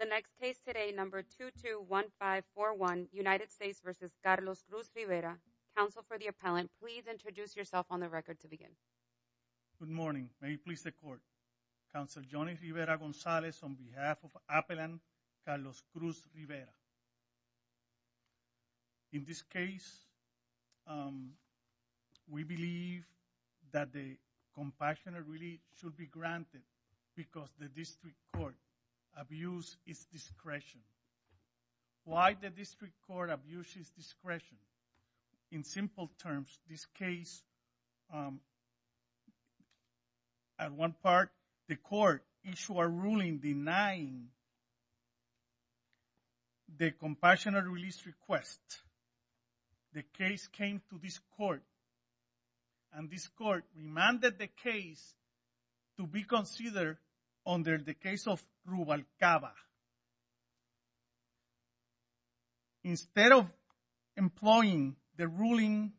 The next case today, number 221541, United States v. Carlos Cruz-Rivera. Counsel for the appellant, please introduce yourself on the record to begin. Good morning, may it please the court. Counsel Johnny Rivera-Gonzalez on behalf of appellant Carlos Cruz-Rivera. In this case, we believe that the compassionate relief should be granted because the district court abused its discretion. Why the district court abuses discretion? In simple terms, this case, at one part, the court issued a ruling denying the compassionate relief request. The case came to this court and this court remanded the case to be considered under the case of Rubalcaba. Instead of employing the ruling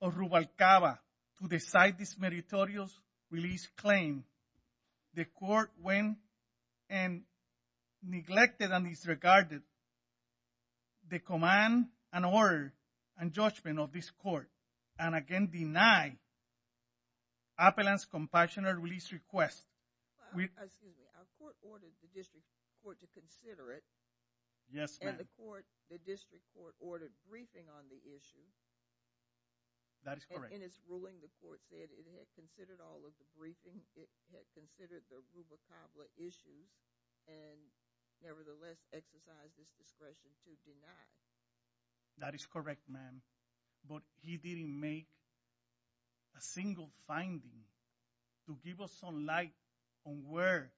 of Rubalcaba to decide this meritorious relief claim, the court went and neglected and disregarded the command and order and judgment of this court and again denied appellant's compassionate relief request. Excuse me, our court ordered the district court to consider it. Yes ma'am. And the court, the district court ordered briefing on the issue. That is correct. In its ruling, the court said it had considered all of the briefing. It had considered the Rubalcaba case. It had considered the Rubalcaba issue and nevertheless exercised its discretion to That is correct ma'am. But he didn't make a single finding to give us some light on where,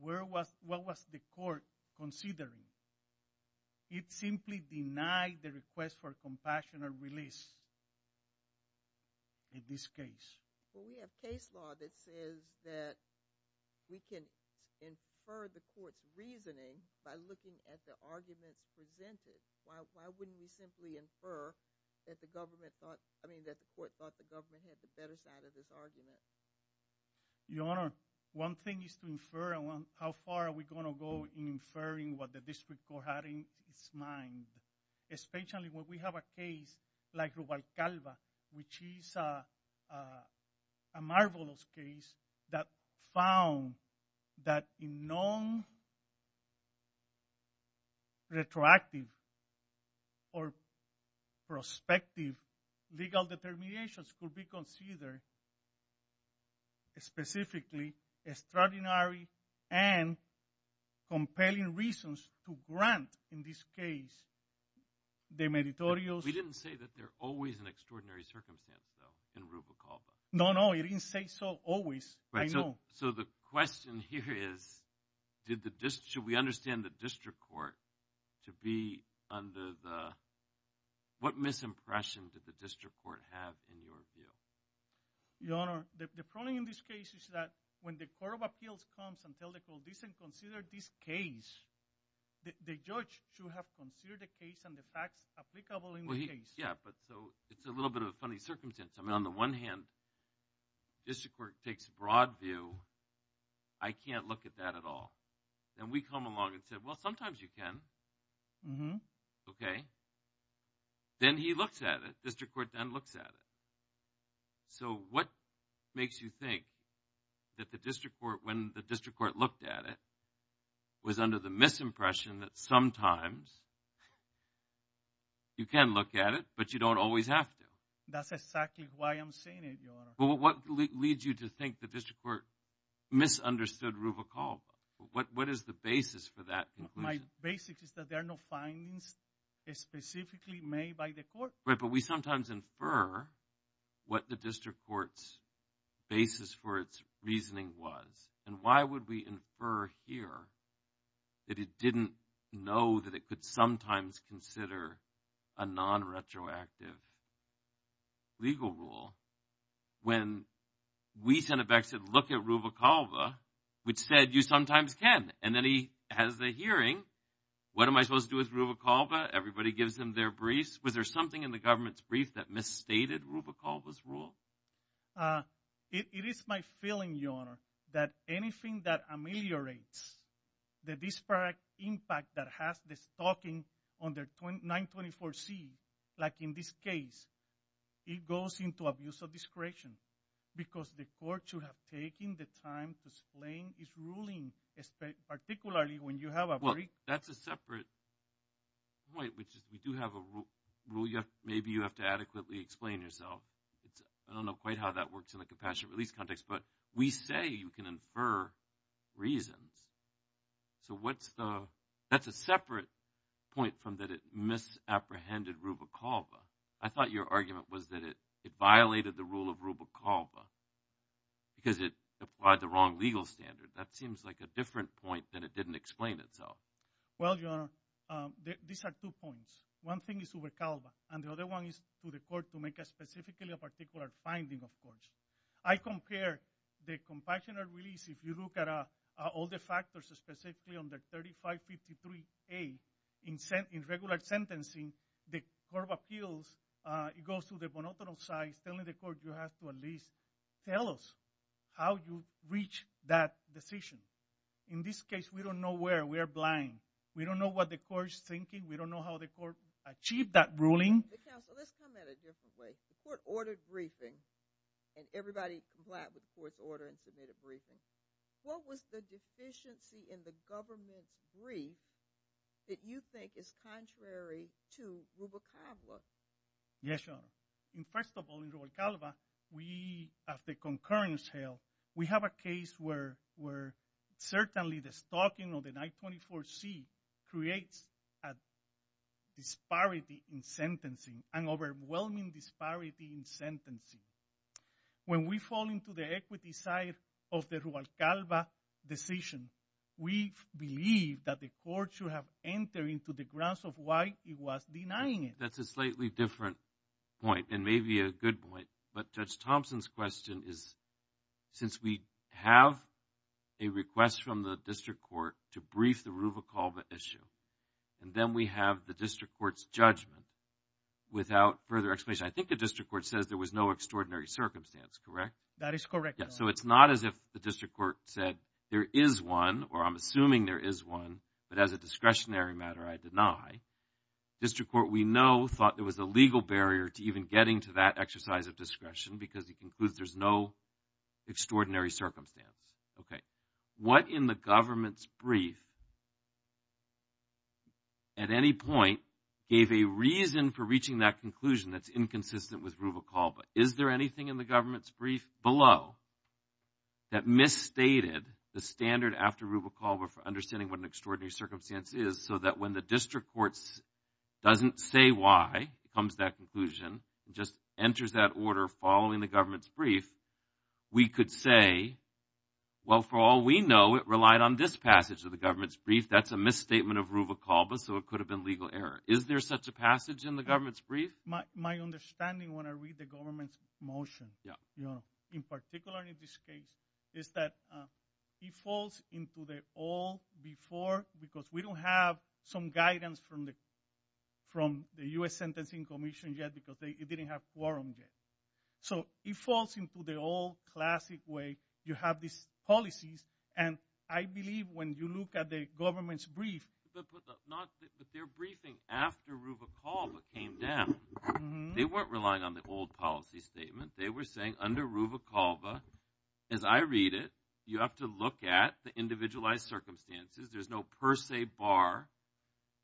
what was the court considering. It simply denied the request for compassionate release in this case. Well we have case law that says that we can infer the court's reasoning by looking at the arguments presented. Why wouldn't we simply infer that the government thought, I mean that the court thought the government had the better side of this argument. Your honor, one thing is to infer and how far are we going to go in inferring what the district court had in its mind. Especially when we have a case like Rubalcaba, which is a marvelous case that found that in non-retroactive or prospective legal determinations could be considered specifically extraordinary and compelling reasons to grant in this case the meritorious. We didn't say that there's always an extraordinary circumstance though in Rubalcaba. No, no, you didn't say so. So the question here is, should we understand the district court to be under the, what misimpression did the district court have in your view? Your honor, the problem in this case is that when the court of appeals comes and tells the court, this isn't considered this case, the judge should have considered the case and the facts applicable in the case. Yeah, but so it's a little bit of a funny circumstance. I mean on the one hand, district court takes broad view, I can't look at that at all. Then we come along and say, well sometimes you can. Mm-hmm. Okay. Then he looks at it, district court then looks at it. So what makes you think that the district court, when the district court looked at it, was under the misimpression that sometimes you can look at it, but you don't always have to? That's exactly why I'm saying it, your honor. Well what leads you to think the district court misunderstood Rubalcaba? What is the basis for that conclusion? My basis is that there are no findings specifically made by the court. Right, but we sometimes infer what the district court's basis for its reasoning was. And why would we infer here that it didn't know that it could sometimes consider a non-retroactive legal rule when we sent it back and said, look at Rubalcaba, which said you sometimes can. And then he has the hearing. What am I supposed to do with Rubalcaba? Everybody gives him their briefs. Was there something in the government's brief that misstated Rubalcaba's rule? It is my feeling, your honor, that anything that ameliorates the disparate impact that has the stalking on their 924C, like in this case, it goes into abuse of discretion. Because the court should have taken the time to explain its ruling, particularly when you have a brief. That's a separate point. We do have a rule. Maybe you have to adequately explain yourself. I don't know quite how that works in the compassionate release context. But we say you can infer reasons. So that's a separate point from that it misapprehended Rubalcaba. I thought your argument was that it violated the rule of Rubalcaba because it applied the wrong legal standard. That seems like a different point than it didn't explain itself. Well, your honor, these are two points. One thing is Rubalcaba. And the other one is for the court to make specifically a particular finding, of course. I compare the compassionate release. If you look at all the factors specifically on the 3553A in regular sentencing, the court of appeals, it goes to the monotonous side, telling the court you have to at least tell us how you reached that decision. In this case, we don't know where. We are blind. We don't know what the court is thinking. We don't know how the court achieved that ruling. Counsel, let's come at it differently. The court ordered a briefing. And everybody complied with the court's order and submitted a briefing. What was the deficiency in the government's brief that you think is contrary to Rubalcaba? Yes, your honor. First of all, in Rubalcaba, we have the concurrence held. We have a case where certainly the stalking of the 924C creates a disparity in sentencing, an overwhelming disparity in sentencing. When we fall into the equity side of the Rubalcaba decision, we believe that the court should have entered into the grounds of why it was denying it. That's a slightly different point, and maybe a good point. But Judge Thompson's question is, since we have a request from the district court to brief the Rubalcaba issue, and then we have the district court's judgment without further I think the district court says there was no extraordinary circumstance, correct? That is correct, your honor. So it's not as if the district court said, there is one, or I'm assuming there is one, but as a discretionary matter, I deny. District court, we know, thought there was a legal barrier to even getting to that exercise of discretion because it concludes there's no extraordinary circumstance. What in the government's brief, at any point, gave a reason for reaching that conclusion that's inconsistent with Rubalcaba? Is there anything in the government's brief below that misstated the standard after Rubalcaba for understanding what an extraordinary circumstance is so that when the district court doesn't say why, comes to that conclusion, just enters that order following the government's brief, we could say, well, for all we know, it relied on this passage of the government's brief. That's a misstatement of Rubalcaba, so it could have been legal error. Is there such a passage in the government's brief? My understanding, when I read the government's motion, in particular in this case, is that it falls into the old before, because we don't have some guidance from the U.S. Sentencing Commission yet because it didn't have quorum yet. So it falls into the old classic way. You have these policies, and I believe when you look at the government's brief... But their briefing after Rubalcaba came down, they weren't relying on the old policy statement. They were saying under Rubalcaba, as I read it, you have to look at the individualized circumstances, there's no per se bar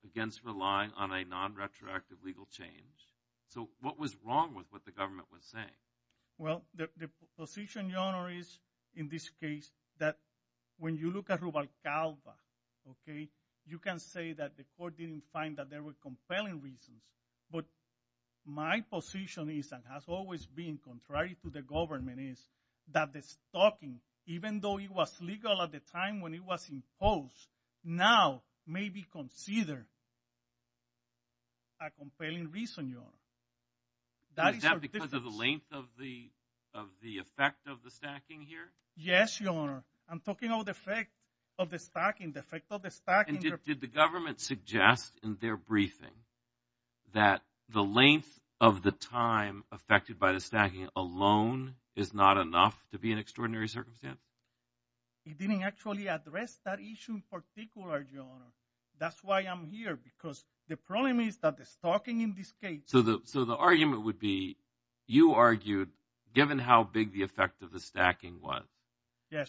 against relying on a non-retroactive legal change. So what was wrong with what the government was saying? Well, the position, Your Honor, is in this case that when you look at Rubalcaba, you can say that the court didn't find that there were compelling reasons. But my position is, and has always been, contrary to the government, is that the stacking, even though it was legal at the time when it was imposed, now may be considered a compelling reason, Your Honor. Is that because of the length of the effect of the stacking here? Yes, Your Honor. I'm talking about the effect of the stacking, the effect of the stacking. And did the government suggest in their briefing that the length of the time affected by the stacking alone is not enough to be an extraordinary circumstance? It didn't actually address that issue in particular, Your Honor. That's why I'm here, because the problem is that the stocking in this case... So the argument would be, you argued, given how big the effect of the stacking was,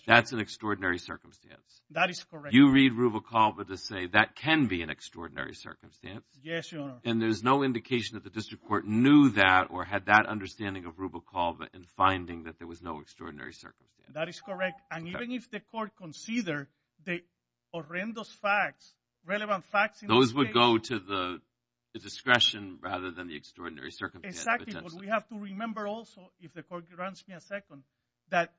that's an extraordinary circumstance. That is correct. You read Rubalcaba to say that can be an extraordinary circumstance. Yes, Your Honor. And there's no indication that the district court knew that or had that understanding of Rubalcaba in finding that there was no extraordinary circumstance. That is correct. And even if the court considered the horrendous facts, relevant facts in this case... Exactly. But we have to remember also, if the court grants me a second, that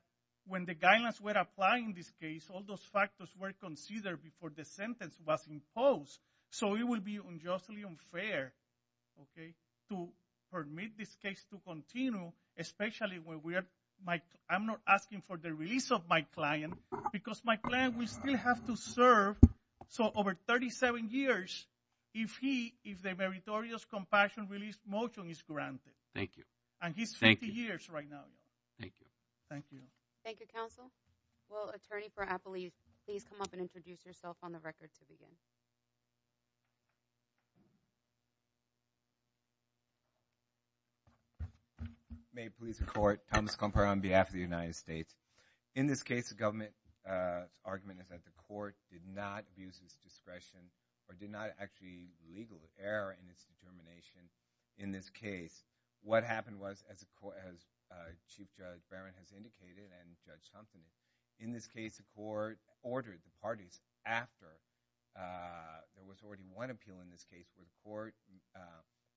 when the guidelines were applied in this case, all those factors were considered before the sentence was imposed. So it would be unjustly unfair, okay, to permit this case to continue, especially when we are... I'm not asking for the release of my client, because my client will still have to serve. So over 37 years, if the meritorious compassion release motion is granted. And he's 50 years right now, Your Honor. Thank you. Thank you, counsel. Will attorney for Appley please come up and introduce yourself on the record to begin? May it please the court, Thomas Comper on behalf of the United States. In this case, the government's argument is that the court did not abuse its discretion or did not actually legal error in its determination in this case. What happened was, as Chief Judge Barron has indicated and Judge Thompson, in this case the court ordered the parties after there was already one appeal in this case where the court,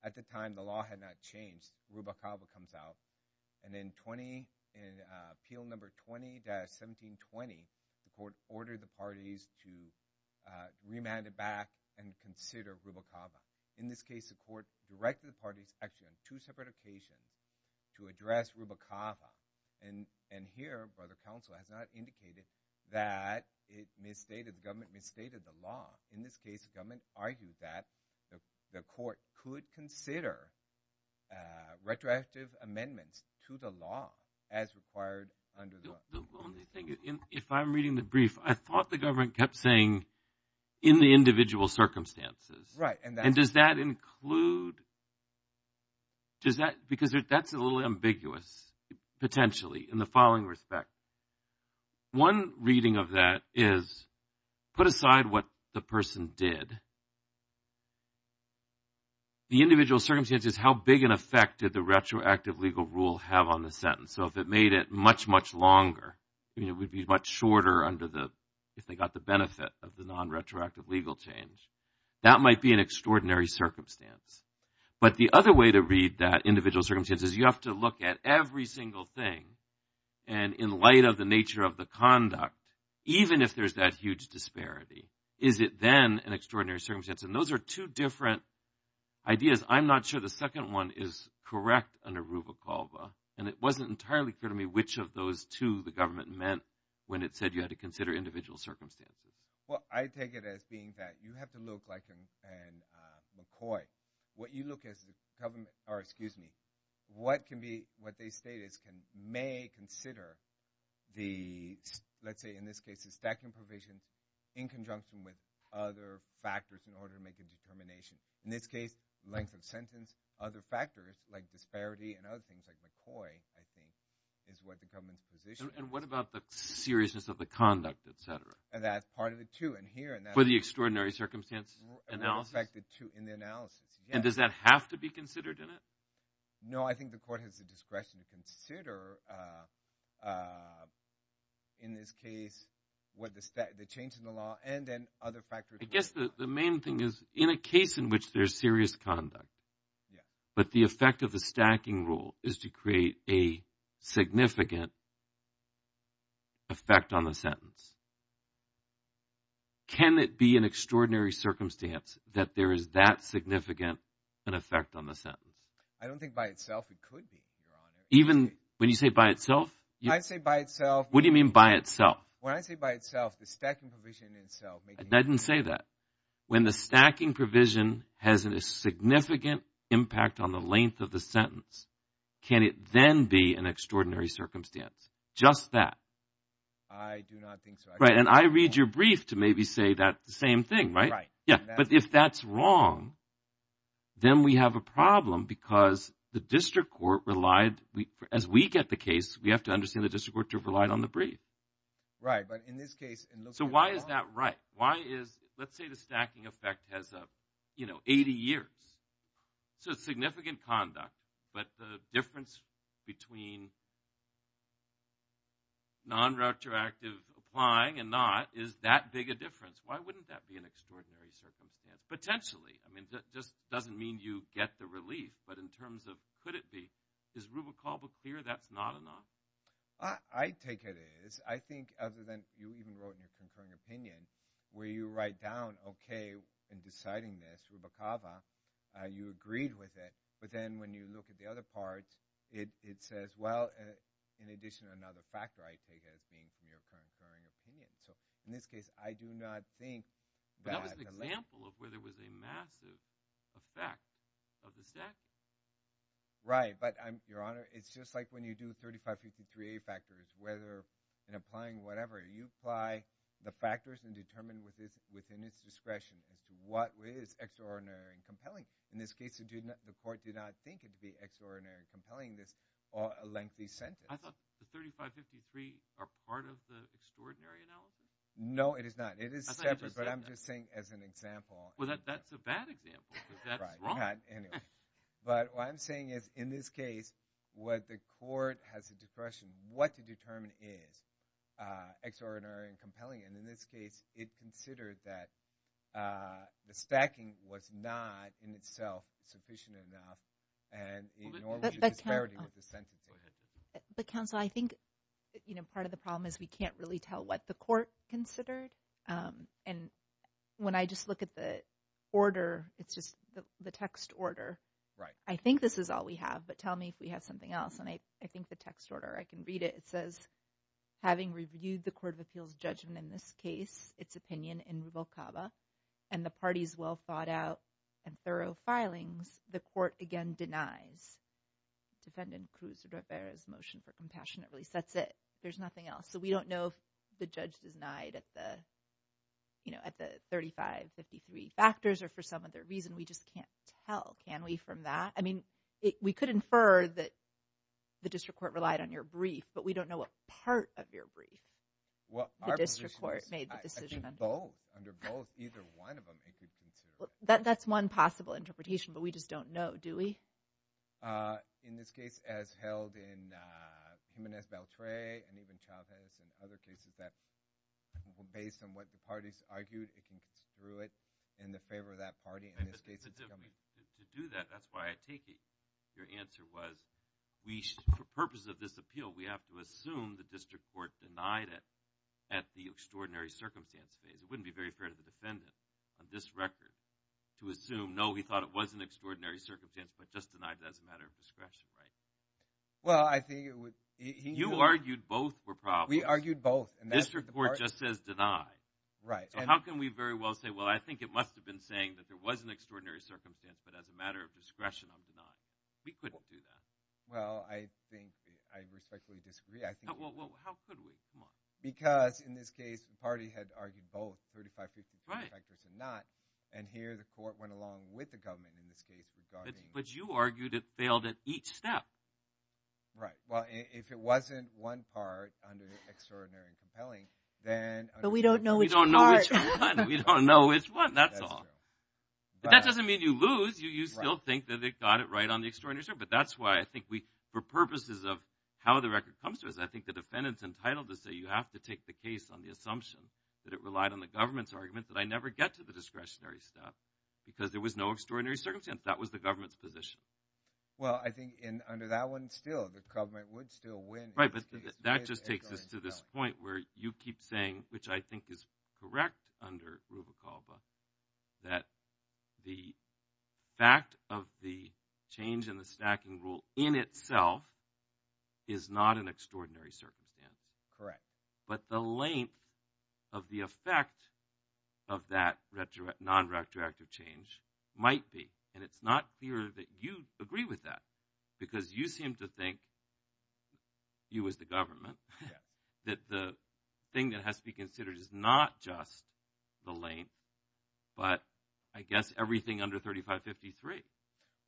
at the time the law had not changed, Rubalcaba comes out. And then 20, in appeal number 20-1720, the court ordered the parties to remand it back and consider Rubalcaba. In this case, the court directed the parties actually on two separate occasions to address Rubalcaba. And here, brother counsel, has not indicated that it misstated, the government misstated the law. In this case, the government argued that the court could consider retroactive amendments to the law as required under the law. The only thing, if I'm reading the brief, I thought the government kept saying, in the individual circumstances. Right. And does that include, does that, because that's a little ambiguous, potentially, in the following respect. One reading of that is, put aside what the person did. The individual circumstances is how big an effect did the retroactive legal rule have on the sentence. So if it made it much, much longer, it would be much shorter under the, if they got the benefit of the non-retroactive legal change. That might be an extraordinary circumstance. But the other way to read that individual circumstance is you have to look at every single thing, and in light of the nature of the conduct, even if there's that huge disparity, is it then an extraordinary circumstance? And those are two different ideas. I'm not sure the second one is correct under Rubalcaba. And it wasn't entirely clear to me which of those two the government meant when it said you had to consider individual circumstances. Well, I take it as being that you have to look like McCoy. What you look as the government, or excuse me, what can be, what they state is, may consider the, let's say in this case, the stacking provision in conjunction with other factors in order to make a determination. In this case, length of sentence, other factors like disparity and other things like McCoy, I think, is what the government's position. And what about the seriousness of the conduct, et cetera? And that's part of it, too. For the extraordinary circumstance analysis? In the analysis, yes. And does that have to be considered in it? No, I think the court has the discretion to consider in this case the change in the law and then other factors. I guess the main thing is, in a case in which there's serious conduct, but the effect of the stacking rule is to create a significant effect on the sentence, can it be an extraordinary circumstance that there is that significant an effect on the sentence? I don't think by itself it could be, Your Honor. Even when you say by itself? When I say by itself... What do you mean by itself? When I say by itself, the stacking provision in itself... I didn't say that. When the stacking provision has a significant impact on the length of the sentence, can it then be an extraordinary circumstance? Just that? I do not think so. Right, and I read your brief to maybe say that same thing, right? Right. Yeah, but if that's wrong, then we have a problem because the district court relied, as we get the case, we have to understand the district court to have relied on the brief. Right, but in this case... So why is that right? Why is... Let's say the stacking effect has, you know, 80 years. So it's significant conduct, but the difference between non-retroactive applying and not is that big a difference. Why wouldn't that be an extraordinary circumstance? Potentially. I mean, it just doesn't mean you get the relief. But in terms of could it be, is Rubicaba clear that's not enough? I take it is. I think other than you even wrote in your concurring opinion, where you write down, okay, in deciding this, Rubicaba, you agreed with it. But then when you look at the other parts, it says, well, in addition to another factor, I take it as being from your concurring opinion. So in this case, I do not think that... But that was an example of where there was a massive effect of the stacking. Right, but Your Honor, it's just like when you do 3553A factors, whether in applying whatever, you apply the factors and determine within its discretion as to what is extraordinary and compelling. In this case, the court did not think it to be extraordinary and compelling, this lengthy sentence. I thought the 3553 are part of the extraordinary analysis? No, it is not. It is separate, but I'm just saying as an example. Well, that's a bad example, because that's wrong. Right, anyway. But what I'm saying is, in this case, what the court has the discretion what to determine is extraordinary and compelling. And in this case, it considered that the stacking was not, in itself, sufficient enough, and it norms the disparity with the sentencing. But counsel, I think part of the problem is we can't really tell what the court considered. And when I just look at the order, it's just the text order. Right. I think this is all we have, but tell me if we have something else. And I think the text order, I can read it. It says, having reviewed the Court of Appeals judgment in this case, its opinion in Rubalcaba, and the party's well-thought-out and thorough filings, the court again denies Defendant Cruz Rivera's motion for compassionate release. That's it. There's nothing else. So we don't know if the judge denied at the 3553 factors, or for some other reason. We just can't tell. Can we from that? I mean, we could infer that the district court relied on your brief, but we don't know what part of your brief the district court made the decision on. I think both. Under both, either one of them. That's one possible interpretation, but we just don't know, do we? In this case, as held in Jiménez Beltré, and even Chávez, and other cases that were based on what the parties argued, it can construe it in the favor of that party. To do that, that's why I take it your answer was, for purposes of this appeal, we have to assume the district court denied it at the extraordinary circumstance phase. It wouldn't be very fair to the defendant on this record to assume, no, he thought it was an extraordinary circumstance, but just denied it as a matter of discretion, right? Well, I think it would... You argued both were problems. We argued both. The district court just says deny. Right. How can we very well say, well, I think it must have been saying that there was an extraordinary circumstance, but as a matter of discretion, I'll deny it. We couldn't do that. Well, I think I respectfully disagree. How could we? Come on. Because in this case, the party had argued both, 35% for defectors and not, and here the court went along with the government in this case regarding... But you argued it failed at each step. Right. Well, if it wasn't one part under extraordinary and compelling, then... But we don't know which part. We don't know which one. We don't know which one. That's all. But that doesn't mean you lose. You still think that they got it right on the extraordinary circumstance, but that's why I think we, for purposes of how the record comes to us, I think the defendant's entitled to say, you have to take the case on the assumption that it relied on the government's argument that I never get to the discretionary step because there was no extraordinary circumstance. That was the government's position. Well, I think under that one, still, the government would still win. Right, but that just takes us to this point where you keep saying, which I think is correct under Ruba Calva, that the fact of the change in the stacking rule in itself is not an extraordinary circumstance. Correct. But the length of the effect of that non-retroactive change might be, and it's not clear that you seem to think, you as the government, that the thing that has to be considered is not just the length, but I guess everything under 3553.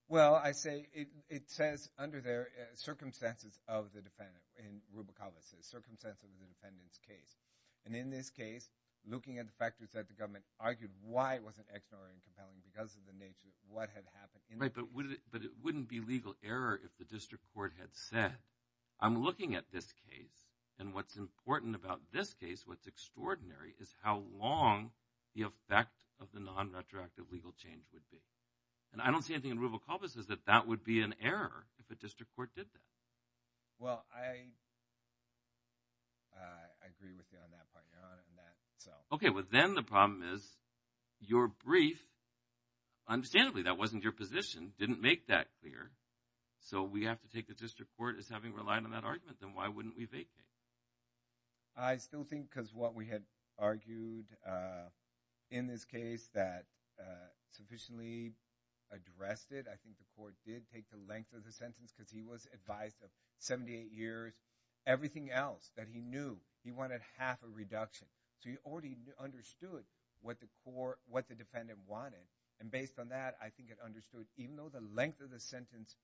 Well, I say, it says under there, circumstances of the defendant in Ruba Calva. Circumstances of the defendant's case. And in this case, looking at the factors that the government argued why it wasn't extraordinary and compelling because of the nature of what had happened. Right, but it wouldn't be legal error if the district court had said, I'm looking at this case, and what's important about this case, what's extraordinary, is how long the effect of the non-retroactive legal change would be. And I don't see anything in Ruba Calva that says that that would be an error if a district court did that. Well, I agree with you on that point, Your Honor. Okay, well then the problem is, your brief, understandably that wasn't your position, didn't make that clear, so we have to take the district court as having relied on that argument, then why wouldn't we vacate? I still think because what we had argued in this case that sufficiently addressed it, I think the court did take the length of the sentence because he was advised of 78 years, everything else that he knew, he wanted half a reduction. So he already understood what the defendant wanted, and based on that, I think it understood even though the length of the sentence,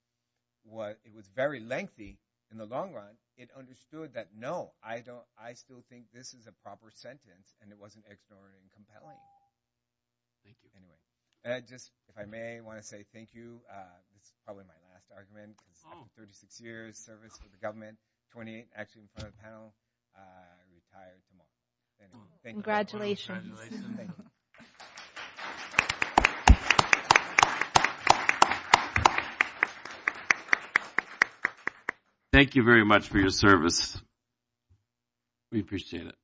it was very lengthy in the long run, it understood that no, I still think this is a proper sentence, and it wasn't extraordinary and compelling. Thank you. Anyway, if I may, I want to say thank you, this is probably my last argument because 36 years of service for the government, 28 actually in front of the panel, I retire tomorrow. Congratulations. Thank you. Thank you very much for your service. We appreciate it.